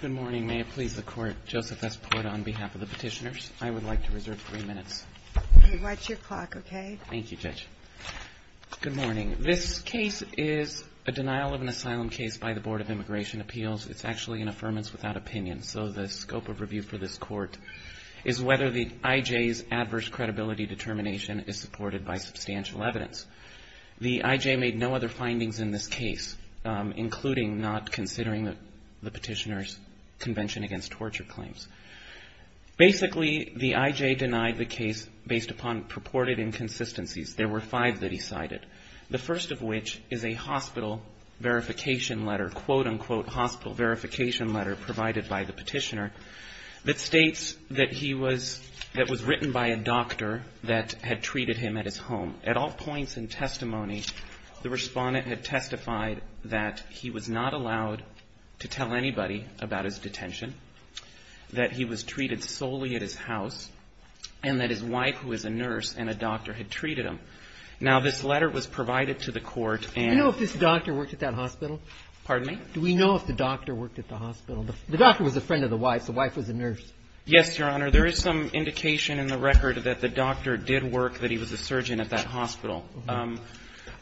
Good morning. May it please the court, Joseph S. Porta on behalf of the petitioners. I would like to reserve three minutes. Watch your clock, okay? Thank you, Judge. Good morning. This case is a denial of an asylum case by the Board of Immigration Appeals. It's actually an affirmance without opinion, so the scope of review for this court is whether the IJ's adverse credibility determination is supported by substantial evidence. The IJ made no other findings in this case, including not considering the petitioner's convention against torture claims. Basically, the IJ denied the case based upon purported inconsistencies. There were five that he cited, the first of which is a hospital verification letter, quote-unquote hospital verification letter provided by the petitioner, that states that he was, that was written by a doctor that had treated him at his home. At all points in testimony, the Respondent had testified that he was not allowed to tell anybody about his detention, that he was treated solely at his house, and that his wife, who is a nurse and a doctor, had treated him. Now, this letter was provided to the court and — Do you know if this doctor worked at that hospital? Pardon me? Do we know if the doctor worked at the hospital? The doctor was a friend of the wife's. The wife was a nurse. Yes, Your Honor. Your Honor, there is some indication in the record that the doctor did work, that he was a surgeon at that hospital.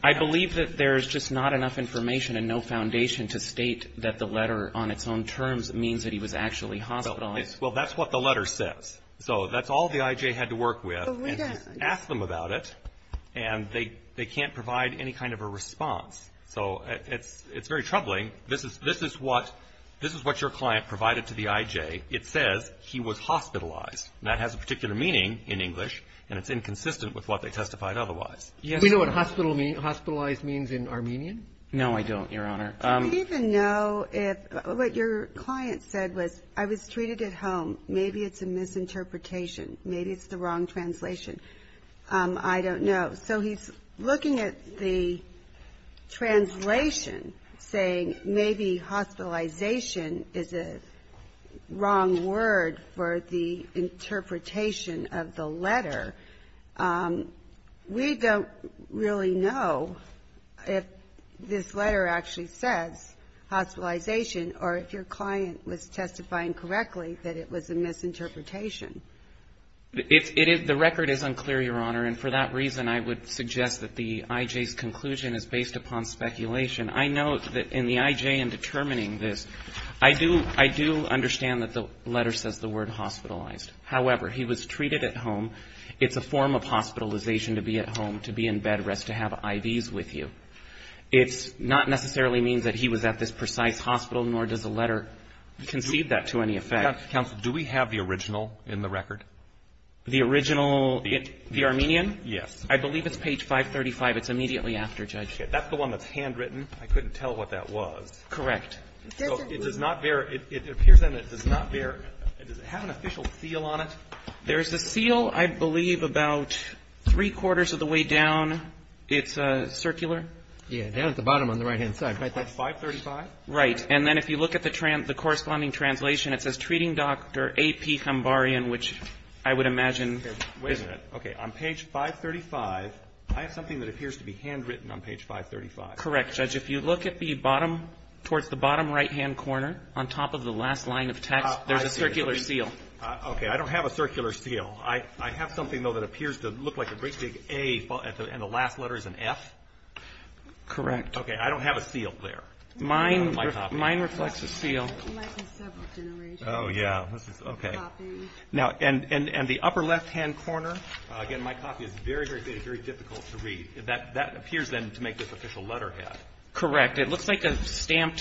I believe that there's just not enough information and no foundation to state that the letter on its own terms means that he was actually hospitalized. Well, that's what the letter says. So that's all the IJ had to work with and ask them about it, and they can't provide any kind of a response. So it's very troubling. This is what your client provided to the IJ. It says he was hospitalized. That has a particular meaning in English, and it's inconsistent with what they testified otherwise. Do you know what hospitalized means in Armenian? No, I don't, Your Honor. I don't even know if — what your client said was, I was treated at home. Maybe it's a misinterpretation. Maybe it's the wrong translation. I don't know. So he's looking at the translation, saying maybe hospitalization is a wrong word for the interpretation of the letter. We don't really know if this letter actually says hospitalization or if your client was testifying correctly that it was a misinterpretation. The record is unclear, Your Honor, and for that reason, I would suggest that the IJ's conclusion is based upon speculation. I note that in the IJ in determining this, I do understand that the letter says the word hospitalized. However, he was treated at home. It's a form of hospitalization to be at home, to be in bed rest, to have IVs with you. It's not necessarily means that he was at this precise hospital, nor does the letter concede that to any effect. Counsel, do we have the original in the record? The original? The Armenian? Yes. I believe it's page 535. It's immediately after, Judge. Okay. That's the one that's handwritten. I couldn't tell what that was. Correct. So it does not bear — it appears then it does not bear — does it have an official seal on it? There's a seal, I believe, about three-quarters of the way down. It's circular. Yeah, down at the bottom on the right-hand side. Right there. 535? Right. And then if you look at the corresponding translation, it says, Treating Dr. A.P. Khambarian, which I would imagine — Wait a minute. Okay. On page 535, I have something that appears to be handwritten on page 535. Correct, Judge. If you look at the bottom, towards the bottom right-hand corner, on top of the last line of text, there's a circular seal. Okay. I don't have a circular seal. I have something, though, that appears to look like a big A, and the last letter is an F. Correct. Okay. I don't have a seal there. Mine reflects a seal. Mine has several generations. Oh, yeah. Okay. And the upper left-hand corner, again, my copy is very, very difficult to read. That appears, then, to make this official letterhead. Correct. It looks like a stamp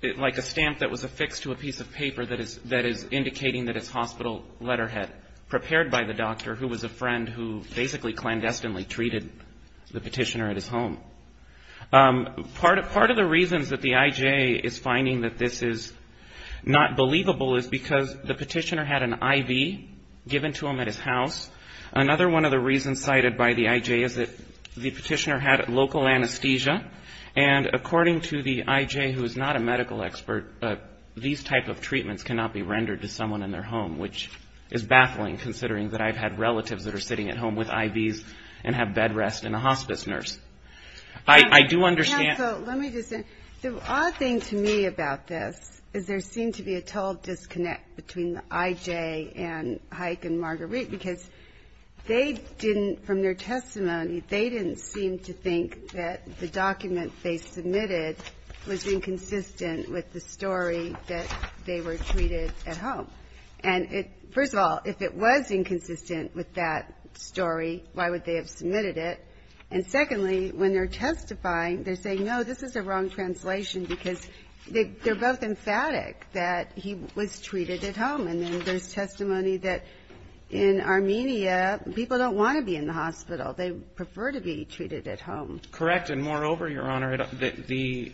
that was affixed to a piece of paper that is indicating that it's hospital letterhead, prepared by the doctor, who was a friend who basically clandestinely treated the petitioner at his home. Part of the reasons that the I.J. is finding that this is not believable is because the petitioner had an I.V. given to him at his house. Another one of the reasons cited by the I.J. is that the petitioner had local anesthesia, and according to the I.J., who is not a medical expert, these type of treatments cannot be rendered to someone in their home, which is baffling, considering that I've had relatives that are sitting at home with I.V.s and have bed rest and a hospice nurse. I do understand. Yeah, so let me just say, the odd thing to me about this is there seemed to be a total disconnect between the I.J. and Hyke and Marguerite, because they didn't, from their testimony, they didn't seem to think that the document they submitted was inconsistent with the story that they were treated at home. And first of all, if it was inconsistent with that story, why would they have submitted it? And secondly, when they're testifying, they're saying, no, this is the wrong translation, because they're both emphatic that he was treated at home. And then there's testimony that in Armenia, people don't want to be in the hospital. They prefer to be treated at home. Correct. And moreover, Your Honor, the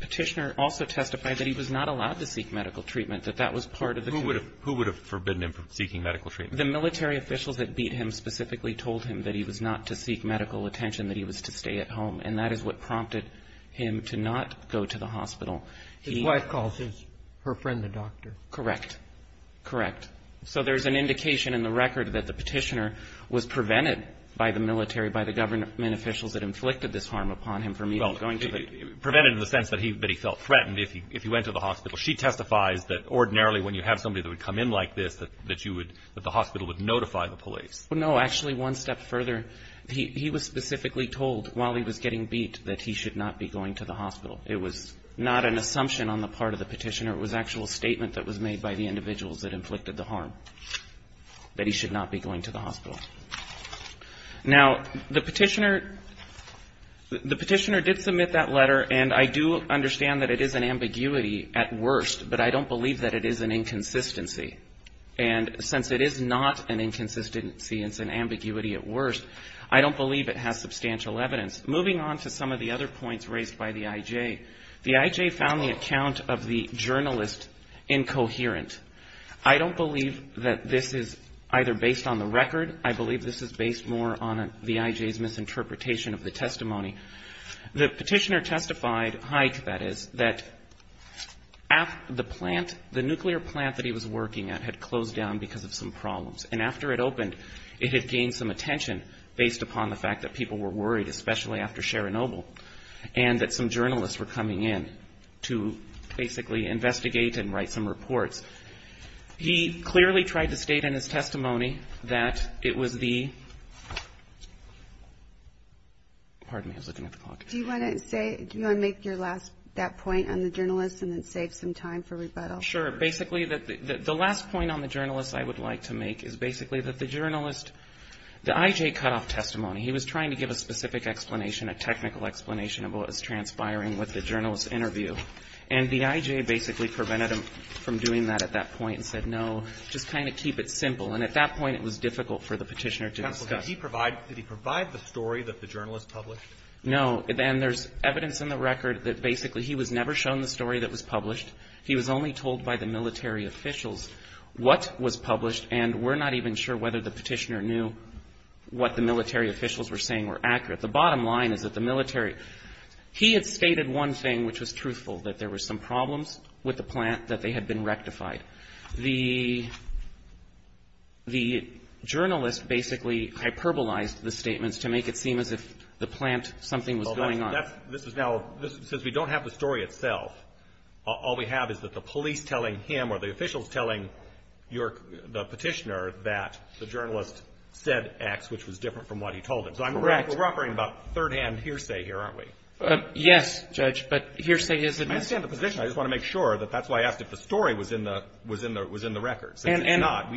petitioner also testified that he was not allowed to seek medical treatment, that that was part of the treatment. Who would have forbidden him from seeking medical treatment? The military officials that beat him specifically told him that he was not to seek medical attention, that he was to stay at home. And that is what prompted him to not go to the hospital. His wife calls his, her friend, the doctor. Correct. Correct. So there's an indication in the record that the petitioner was prevented by the military, by the government officials that inflicted this harm upon him from even going to the hospital. Prevented in the sense that he felt threatened if he went to the hospital. She testifies that ordinarily when you have somebody that would come in like this, that you would, that the hospital would notify the police. No. Actually, one step further, he was specifically told while he was getting beat that he should not be going to the hospital. It was not an assumption on the part of the petitioner. It was actually a statement that was made by the individuals that inflicted the harm, that he should not be going to the hospital. Now, the petitioner, the petitioner did submit that letter, and I do understand that it is an ambiguity at worst, but I don't believe that it is an inconsistency. And since it is not an inconsistency, it's an ambiguity at worst, I don't believe it has substantial evidence. Moving on to some of the other points raised by the I.J., the I.J. found the account of the journalist incoherent. I don't believe that this is either based on the record. I believe this is based more on the I.J.'s misinterpretation of the testimony. The petitioner testified, I.J., that is, that the plant, the nuclear plant that he was working at, had closed down because of some problems. And after it opened, it had gained some attention based upon the fact that people were worried, especially after Chernobyl, and that some journalists were coming in to basically investigate and write some reports. He clearly tried to state in his testimony that it was the, pardon me, I was looking at the clock. Do you want to say, do you want to make your last, that point on the journalist and then save some time for rebuttal? Sure. Basically, the last point on the journalist I would like to make is basically that the journalist, the I.J. cut off testimony. He was trying to give a specific explanation, a technical explanation of what was transpiring with the journalist's interview. And the I.J. basically prevented him from doing that at that point and said, no, just kind of keep it simple. And at that point, it was difficult for the petitioner to discuss. Counsel, did he provide the story that the journalist published? No. And there's evidence in the record that basically he was never shown the story that was published. He was only told by the military officials what was published, and we're not even sure whether the petitioner knew what the military officials were saying were accurate. The bottom line is that the military, he had stated one thing which was truthful, that there were some problems with the plant, that they had been rectified. The journalist basically hyperbolized the statements to make it seem as if the plant, something was going on. This is now, since we don't have the story itself, all we have is that the police telling him or the officials telling the petitioner that the journalist said X, which was different from what he told him. Correct. We're operating about third-hand hearsay here, aren't we? Yes, Judge, but hearsay is a different thing. I understand the position. I just want to make sure that that's why I asked if the story was in the record. And it's not.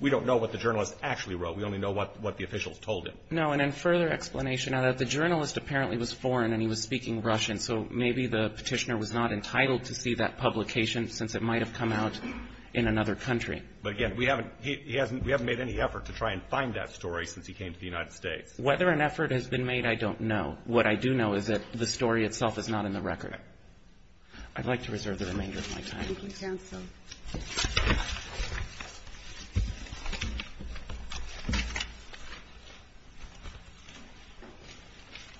We don't know what the journalist actually wrote. We only know what the officials told him. No, and in further explanation, the journalist apparently was foreign and he was speaking Russian, so maybe the petitioner was not entitled to see that publication since it might have come out in another country. But, again, we haven't made any effort to try and find that story since he came to the United States. Whether an effort has been made, I don't know. What I do know is that the story itself is not in the record. I'd like to reserve the remainder of my time. Thank you, counsel.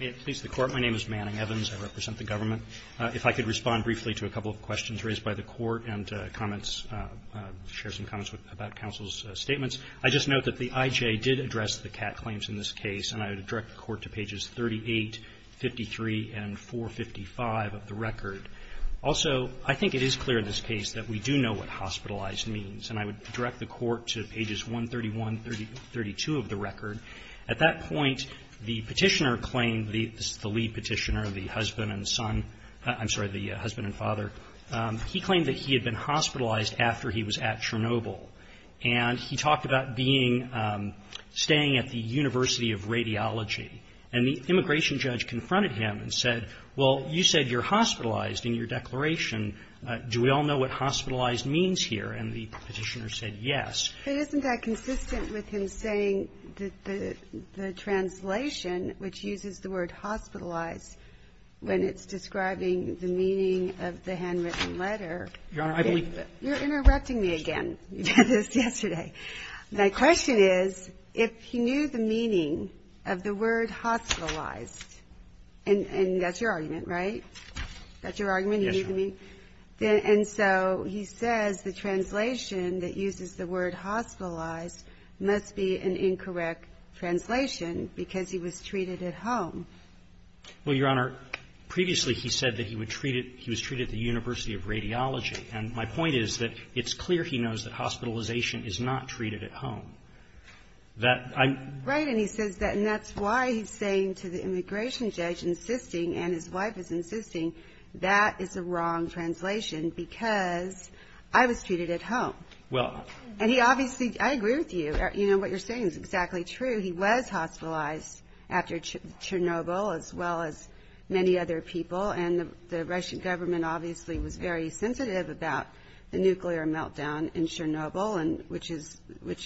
May it please the Court. My name is Manning Evans. I represent the government. If I could respond briefly to a couple of questions raised by the Court and comments share some comments about counsel's statements. I just note that the IJ did address the Catt claims in this case, and I would direct the Court to pages 38, 53, and 455 of the record. Also, I think it is clear in this case that we do know what hospitalized means, and I would direct the Court to pages 131, 32 of the record. At that point, the petitioner claimed, the lead petitioner, the husband and son, I'm sorry, the husband and father. He claimed that he had been hospitalized after he was at Chernobyl, and he talked about staying at the University of Radiology. And the immigration judge confronted him and said, well, you said you're hospitalized in your declaration. Do we all know what hospitalized means here? And the petitioner said yes. But isn't that consistent with him saying that the translation, which uses the word hospitalized when it's describing the meaning of the handwritten letter, you're interrupting me again. You did this yesterday. My question is, if he knew the meaning of the word hospitalized, and that's your argument, right? That's your argument? And so he says the translation that uses the word hospitalized must be an incorrect translation because he was treated at home. Well, Your Honor, previously he said that he was treated at the University of Radiology. And my point is that it's clear he knows that hospitalization is not treated at home. Right. And he says that. And that's why he's saying to the immigration judge, insisting, and his wife is insisting, that is a wrong translation because I was treated at home. And he obviously, I agree with you. You know, what you're saying is exactly true. He was hospitalized after Chernobyl, as well as many other people. And the Russian government obviously was very sensitive about the nuclear meltdown in Chernobyl, which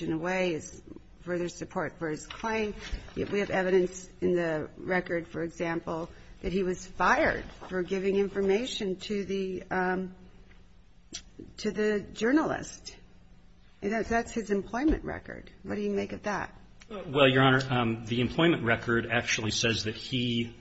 in a way is further support for his claim. We have evidence in the record, for example, that he was fired for giving information to the journalist. That's his employment record. What do you make of that? Well, Your Honor, the employment record actually says that he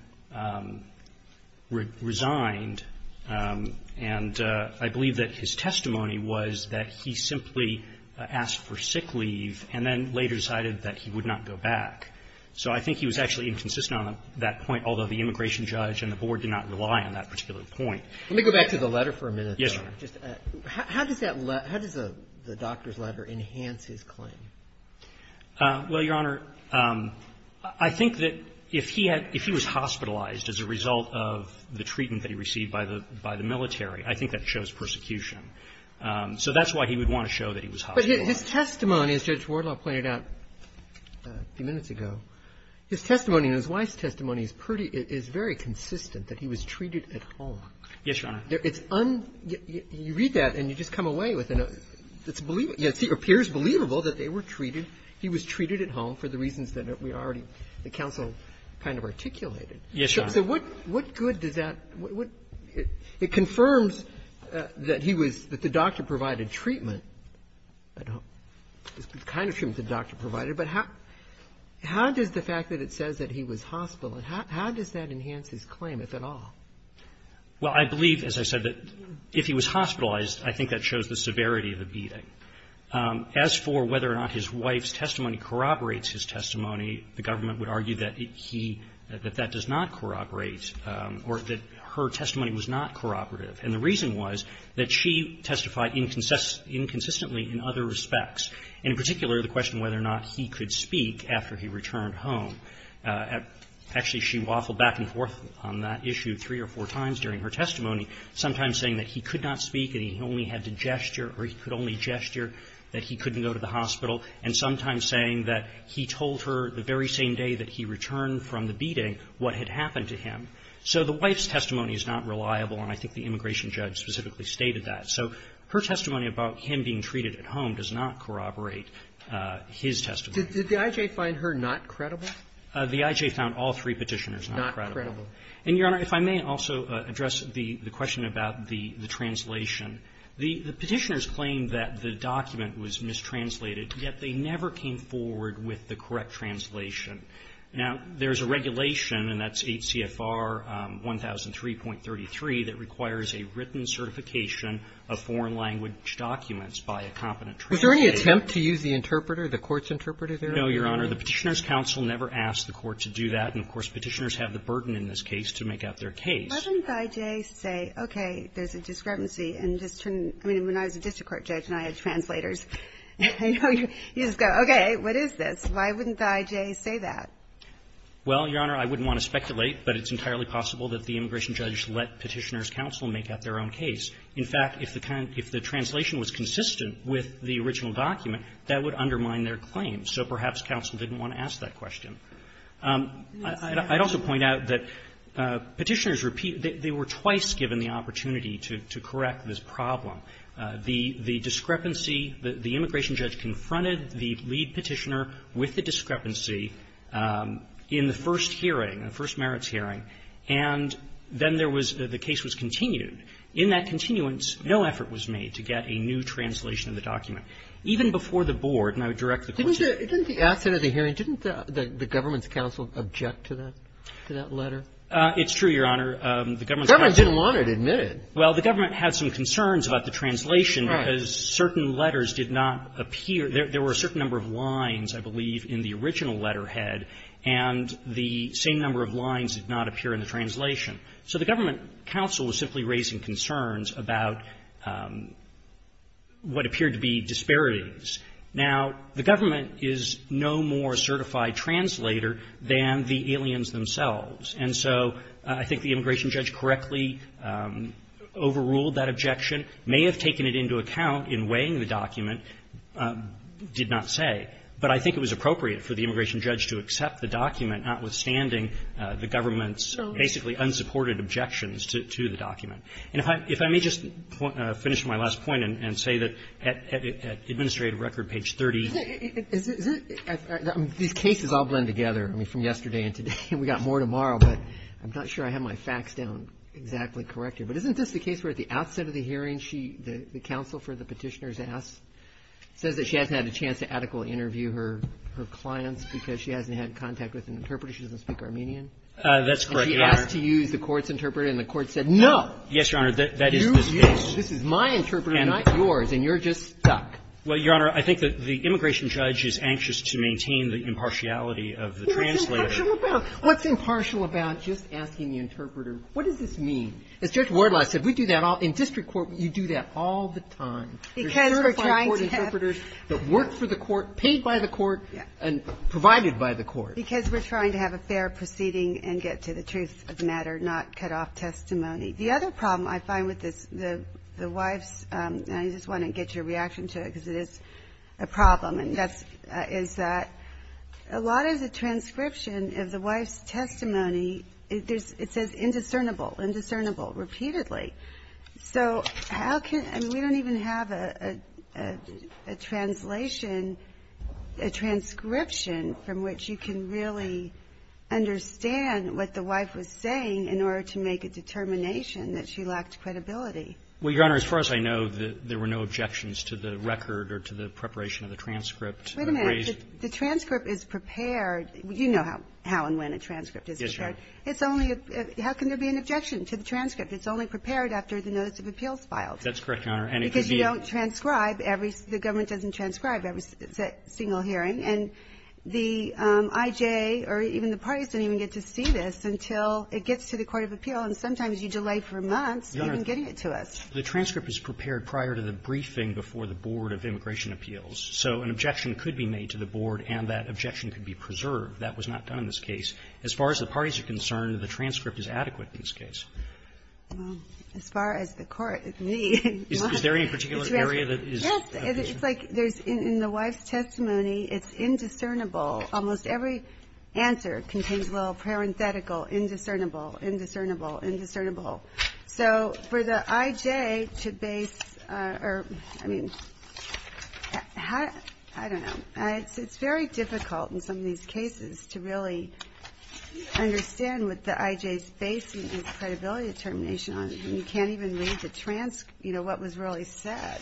resigned. And I believe that his testimony was that he simply asked for sick leave and then later decided that he would not go back. So I think he was actually inconsistent on that point, although the immigration judge and the board did not rely on that particular point. Yes, Your Honor. How does the doctor's letter enhance his claim? Well, Your Honor, I think that if he was hospitalized as a result of the treatment that he received by the military, I think that shows persecution. So that's why he would want to show that he was hospitalized. But his testimony, as Judge Wardlaw pointed out a few minutes ago, his testimony and his wife's testimony is very consistent, that he was treated at home. Yes, Your Honor. It's un-you read that and you just come away with it. It's believable. It appears believable that they were treated. He was treated at home for the reasons that we already, the counsel kind of articulated. Yes, Your Honor. So what good does that, what, it confirms that he was, that the doctor provided treatment. I don't, it's kind of true that the doctor provided, but how does the fact that it says that he was hospitalized, how does that enhance his claim, if at all? Well, I believe, as I said, that if he was hospitalized, I think that shows the severity of the beating. As for whether or not his wife's testimony corroborates his testimony, the government would argue that he, that that does not corroborate or that her testimony was not corroborative. And the reason was that she testified inconsistently in other respects, and in particular the question whether or not he could speak after he returned home. Actually, she waffled back and forth on that issue three or four times during her testimony, sometimes saying that he could not speak and he only had to gesture or he could only gesture that he couldn't go to the hospital, and sometimes saying that he told her the very same day that he returned from the beating what had happened to him. So the wife's testimony is not reliable, and I think the immigration judge specifically stated that. So her testimony about him being treated at home does not corroborate his testimony. Did the I.J. find her not credible? The I.J. found all three Petitioners not credible. And, Your Honor, if I may also address the question about the translation. The Petitioners claimed that the document was mistranslated, yet they never came forward with the correct translation. Now, there's a regulation, and that's 8 CFR 1003.33, that requires a written certification of foreign language documents by a competent translator. Was there any attempt to use the interpreter, the court's interpreter there? No, Your Honor. The Petitioners' counsel never asked the court to do that, and, of course, Petitioners have the burden in this case to make out their case. Why wouldn't the I.J. say, okay, there's a discrepancy, and just turn to me. I mean, when I was a district court judge and I had translators, you just go, okay, what is this? Why wouldn't the I.J. say that? Well, Your Honor, I wouldn't want to speculate, but it's entirely possible that the immigration judge let Petitioners' counsel make out their own case. In fact, if the translation was consistent with the original document, that would undermine their claim. So perhaps counsel didn't want to ask that question. I'd also point out that Petitioners' repeat they were twice given the opportunity to correct this problem. The discrepancy, the immigration judge confronted the lead Petitioner with the discrepancy in the first hearing, the first merits hearing, and then there was the case was continued. In that continuance, no effort was made to get a new translation of the document. Even before the board, and I would direct the court to the board. Didn't the asset of the hearing, didn't the government's counsel object to that? To that letter? It's true, Your Honor. The government's counsel didn't want it. Admit it. Well, the government had some concerns about the translation because certain letters did not appear. There were a certain number of lines, I believe, in the original letterhead, and the same number of lines did not appear in the translation. So the government counsel was simply raising concerns about what appeared to be disparities. Now, the government is no more a certified translator than the aliens themselves. And so I think the immigration judge correctly overruled that objection, may have taken it into account in weighing the document, did not say. But I think it was appropriate for the immigration judge to accept the document, notwithstanding the government's basically unsupported objections to the document. And if I may just finish my last point and say that at administrative record, page 30. These cases all blend together, I mean, from yesterday and today. We got more tomorrow, but I'm not sure I have my facts down exactly correct here. But isn't this the case where at the outset of the hearing, the counsel for the petitioner's ass says that she hasn't had a chance to adequately interview her clients because she doesn't speak Armenian? That's correct, Your Honor. And she asked to use the court's interpreter, and the court said no. Yes, Your Honor. That is this case. This is my interpreter, not yours, and you're just stuck. Well, Your Honor, I think that the immigration judge is anxious to maintain the impartiality of the translator. What's impartial about just asking the interpreter? What does this mean? As Judge Wardlaw said, we do that all the time. In district court, you do that all the time. Because we're trying to have the court paid by the court and provided by the court. Because we're trying to have a fair proceeding and get to the truth of the matter, not cut off testimony. The other problem I find with the wife's, and I just want to get your reaction to it because it is a problem, is that a lot of the transcription of the wife's testimony, it says indiscernible, indiscernible repeatedly. So how can, we don't even have a translation, a transcription from which you can read the How can you really understand what the wife was saying in order to make a determination that she lacked credibility? Well, Your Honor, as far as I know, there were no objections to the record or to the preparation of the transcript. Wait a minute. The transcript is prepared. You know how and when a transcript is prepared. Yes, Your Honor. It's only, how can there be an objection to the transcript? It's only prepared after the notice of appeals filed. That's correct, Your Honor. Because you don't transcribe every, the government doesn't transcribe every single hearing. And the IJ or even the parties don't even get to see this until it gets to the Court of Appeal. And sometimes you delay for months even getting it to us. The transcript is prepared prior to the briefing before the Board of Immigration Appeals. So an objection could be made to the Board and that objection could be preserved. That was not done in this case. As far as the parties are concerned, the transcript is adequate in this case. Well, as far as the Court, me and my wife. Is there any particular area that is? Yes. It's like there's, in the wife's testimony, it's indiscernible. Almost every answer contains a little parenthetical, indiscernible, indiscernible, indiscernible. So for the IJ to base, or, I mean, I don't know. It's very difficult in some of these cases to really understand what the IJ is basing this credibility determination on and you can't even read the transcript, you know, what was really said.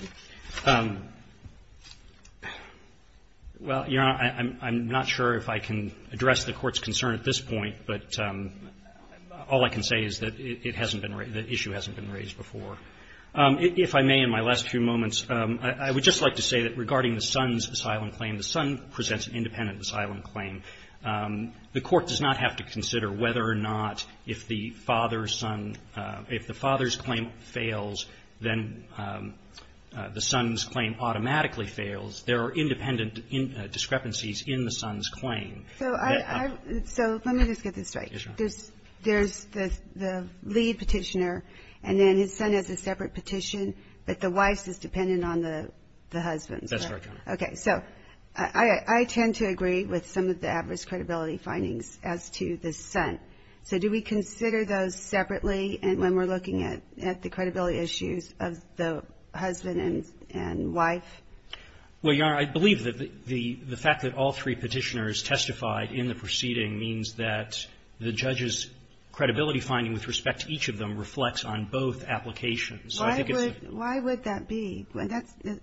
Well, Your Honor, I'm not sure if I can address the Court's concern at this point, but all I can say is that it hasn't been raised, the issue hasn't been raised before. If I may, in my last few moments, I would just like to say that regarding the son's asylum claim, the son presents an independent asylum claim. The Court does not have to consider whether or not if the father's son, if the father's son fails, then the son's claim automatically fails. There are independent discrepancies in the son's claim. So I, so let me just get this right. Yes, Your Honor. There's the lead petitioner and then his son has a separate petition, but the wife's is dependent on the husband. That's right, Your Honor. Okay. So I tend to agree with some of the adverse credibility findings as to the son. So do we consider those separately when we're looking at the credibility issues of the husband and wife? Well, Your Honor, I believe that the fact that all three petitioners testified in the proceeding means that the judge's credibility finding with respect to each of them reflects on both applications. Why would that be?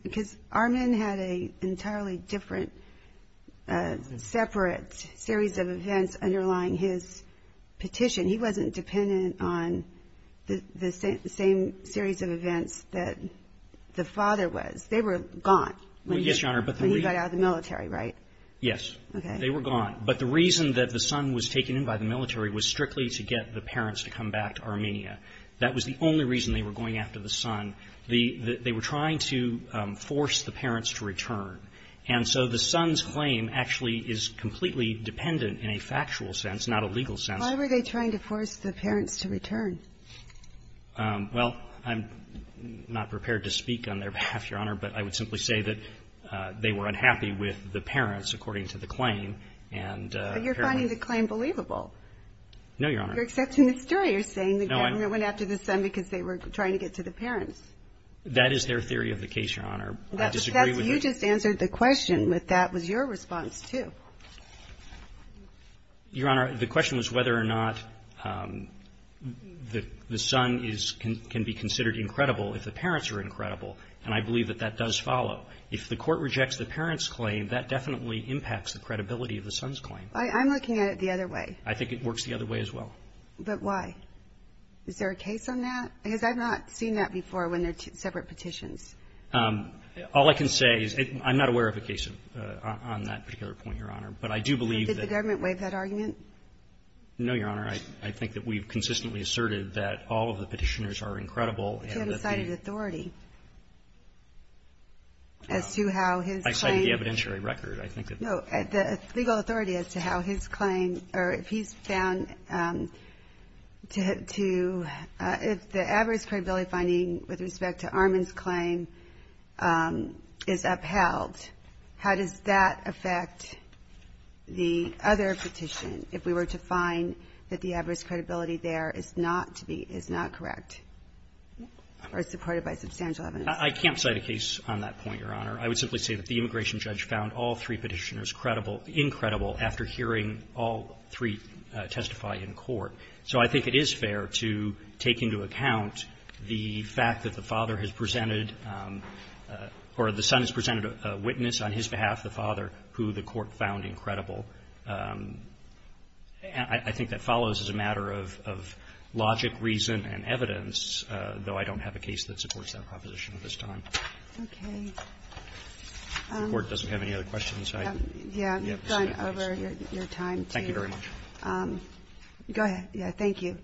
Because Armen had an entirely different separate series of events underlying his petition. He wasn't dependent on the same series of events that the father was. They were gone when he got out of the military, right? Yes. They were gone. But the reason that the son was taken in by the military was strictly to get the parents to come back to Armenia. That was the only reason they were going after the son. They were trying to force the parents to return. And so the son's claim actually is completely dependent in a factual sense, not a legal sense. Why were they trying to force the parents to return? Well, I'm not prepared to speak on their behalf, Your Honor, but I would simply say that they were unhappy with the parents, according to the claim, and apparently But you're finding the claim believable. No, Your Honor. You're accepting the story. You're saying the government went after the son because they were trying to get to the parents. That is their theory of the case, Your Honor. I disagree with it. You just answered the question, but that was your response, too. Your Honor, the question was whether or not the son can be considered incredible if the parents are incredible, and I believe that that does follow. If the court rejects the parents' claim, that definitely impacts the credibility of the son's claim. I'm looking at it the other way. I think it works the other way as well. But why? Is there a case on that? Because I've not seen that before when they're separate petitions. All I can say is I'm not aware of a case on that particular point, Your Honor. But I do believe that Did the government waive that argument? No, Your Honor. I think that we've consistently asserted that all of the Petitioners are incredible and that the You haven't cited authority as to how his claim I cited the evidentiary record. I think that legal authority as to how his claim or if he's found to have to, if the average credibility finding with respect to Armand's claim is upheld, how does that affect the other petition if we were to find that the average credibility there is not to be, is not correct or supported by substantial evidence? I can't cite a case on that point, Your Honor. I would simply say that the immigration judge found all three Petitioners credible, incredible after hearing all three testify in court. So I think it is fair to take into account the fact that the father has presented or the son has presented a witness on his behalf, the father, who the court found incredible. I think that follows as a matter of logic, reason, and evidence, though I don't have a case that supports that proposition at this time. Okay. The Court doesn't have any other questions. Yeah. You've gone over your time, too. Thank you very much. Go ahead. Yeah. Thank you.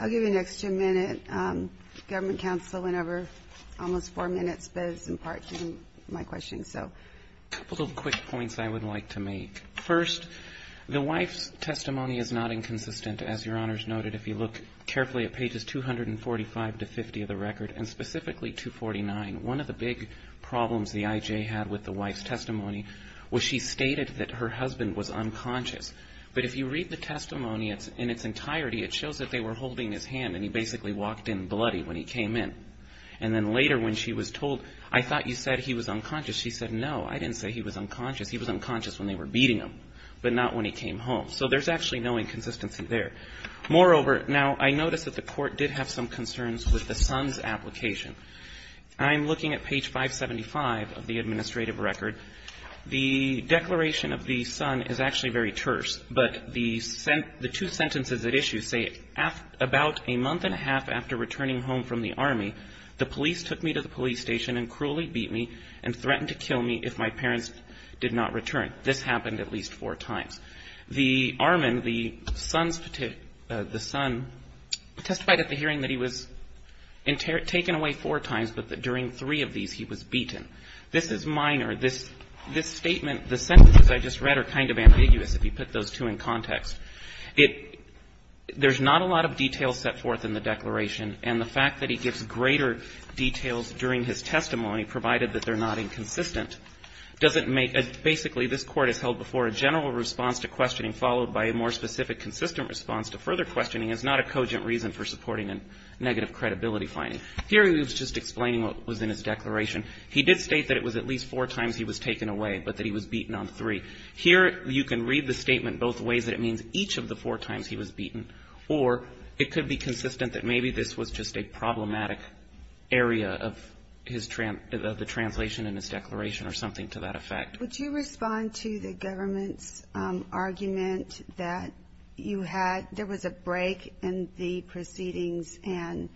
I'll give you an extra minute. Government counsel went over almost four minutes, but it's in part to my question, so. A couple of quick points I would like to make. First, the wife's testimony is not inconsistent, as Your Honor has noted, if you look carefully at pages 245 to 50 of the record, and specifically 249, one of the big problems the I.J. had with the wife's testimony was she stated that her husband was unconscious. But if you read the testimony in its entirety, it shows that they were holding his hand, and he basically walked in bloody when he came in. And then later when she was told, I thought you said he was unconscious, she said, no, I didn't say he was unconscious. He was unconscious when they were beating him, but not when he came home. So there's actually no inconsistency there. Moreover, now, I notice that the Court did have some concerns with the son's application. I'm looking at page 575 of the administrative record. The declaration of the son is actually very terse. But the two sentences at issue say, about a month and a half after returning home from the Army, the police took me to the police station and cruelly beat me and threatened to kill me if my parents did not return. This happened at least four times. The armament, the son's, the son testified at the hearing that he was taken away four times, but that during three of these he was beaten. This is minor. This statement, the sentences I just read are kind of ambiguous, if you put those two in context. It, there's not a lot of detail set forth in the declaration, and the fact that he gives greater details during his testimony, provided that they're not inconsistent, doesn't make, basically this Court has held before a general response to questioning followed by a more specific consistent response to further questioning is not a cogent reason for supporting a negative credibility finding. Here he was just explaining what was in his declaration. He did state that it was at least four times he was taken away, but that he was beaten on three. Here you can read the statement both ways, that it means each of the four times he was beaten, or it could be consistent that maybe this was just a problematic area of his, of the translation in his declaration or something to that effect. Would you respond to the government's argument that you had, there was a break in the proceedings and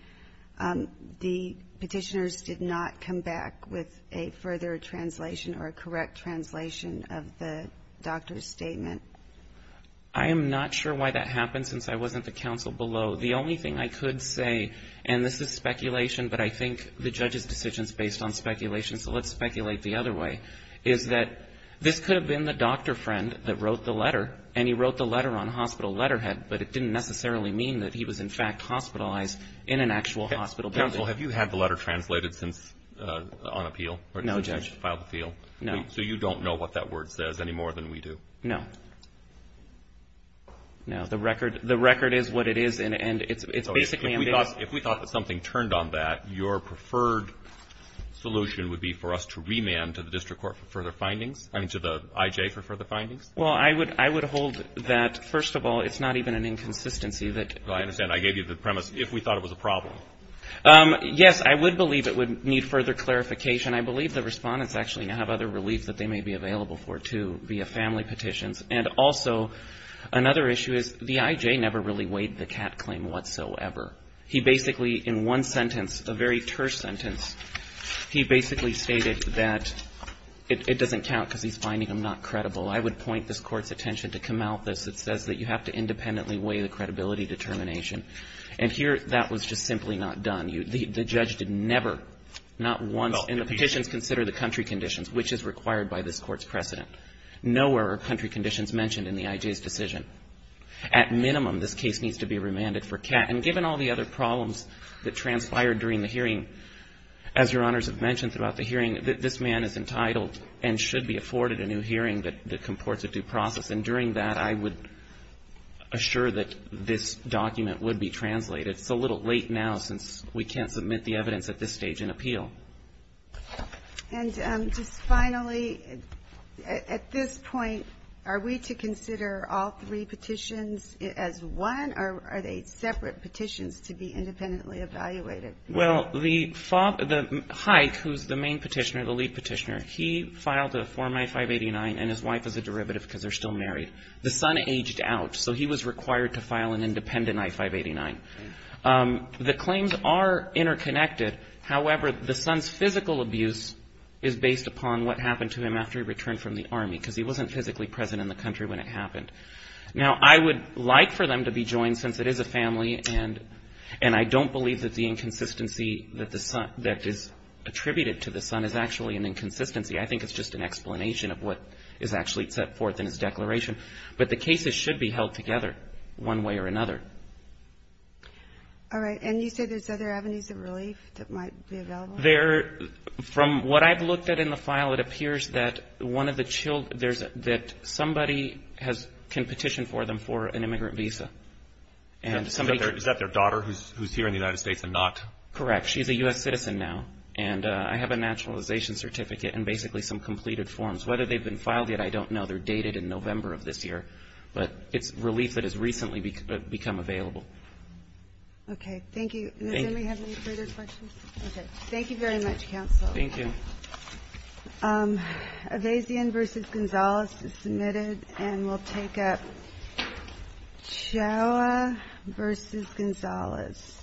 the petitioners did not come back with a further translation or a correct translation of the doctor's statement? I am not sure why that happened, since I wasn't the counsel below. The only thing I could say, and this is speculation, but I think the judge's decision is based on speculation, so let's speculate the other way, is that this could have been the doctor friend that wrote the letter, and he wrote the letter on hospital letterhead, but it didn't necessarily mean that he was in fact hospitalized in an actual hospital building. Counsel, have you had the letter translated since on appeal? No, Judge. So you don't know what that word says any more than we do? No. No, the record is what it is, and it's basically a mandate. If we thought that something turned on that, your preferred solution would be for us to remand to the district court for further findings? I mean, to the I.J. for further findings? Well, I would hold that, first of all, it's not even an inconsistency that you could Well, I understand. I gave you the premise, if we thought it was a problem. Yes, I would believe it would need further clarification. I believe the Respondents actually have other relief that they may be available for, too, via family petitions. And also another issue is the I.J. never really weighed the Catt claim whatsoever. He basically in one sentence, a very terse sentence, he basically stated that it doesn't count because he's finding them not credible. I would point this Court's attention to Kamalthus. It says that you have to independently weigh the credibility determination. And here that was just simply not done. The judge did never, not once. And the petitions consider the country conditions, which is required by this Court's precedent. Nowhere are country conditions mentioned in the I.J.'s decision. At minimum, this case needs to be remanded for Catt. And given all the other problems that transpired during the hearing, as Your Honors have mentioned throughout the hearing, this man is entitled and should be afforded a new hearing that comports a due process. And during that, I would assure that this document would be translated. It's a little late now since we can't submit the evidence at this stage in appeal. And just finally, at this point, are we to consider all three petitions as one, or are they separate petitions to be independently evaluated? Well, the Hike, who's the main petitioner, the lead petitioner, he filed a Form I-589 and his wife is a derivative because they're still married. The son aged out, so he was required to file an independent I-589. The claims are interconnected. However, the son's physical abuse is based upon what happened to him after he returned from the Army, because he wasn't physically present in the country when it happened. Now, I would like for them to be joined, since it is a family, and I don't believe that the inconsistency that is attributed to the son is actually an inconsistency. I think it's just an explanation of what is actually set forth in his declaration. But the cases should be held together one way or another. All right. And you say there's other avenues of relief that might be available? From what I've looked at in the file, it appears that somebody can petition for them for an immigrant visa. Is that their daughter who's here in the United States and not? Correct. She's a U.S. citizen now. And I have a naturalization certificate and basically some completed forms. Whether they've been filed yet, I don't know. They're dated in November of this year. But it's relief that has recently become available. Okay. Thank you. Thank you. Does anybody have any further questions? Okay. Thank you very much, Counsel. Thank you. Avazian v. Gonzalez is submitted, and we'll take up Chaua v. Gonzalez.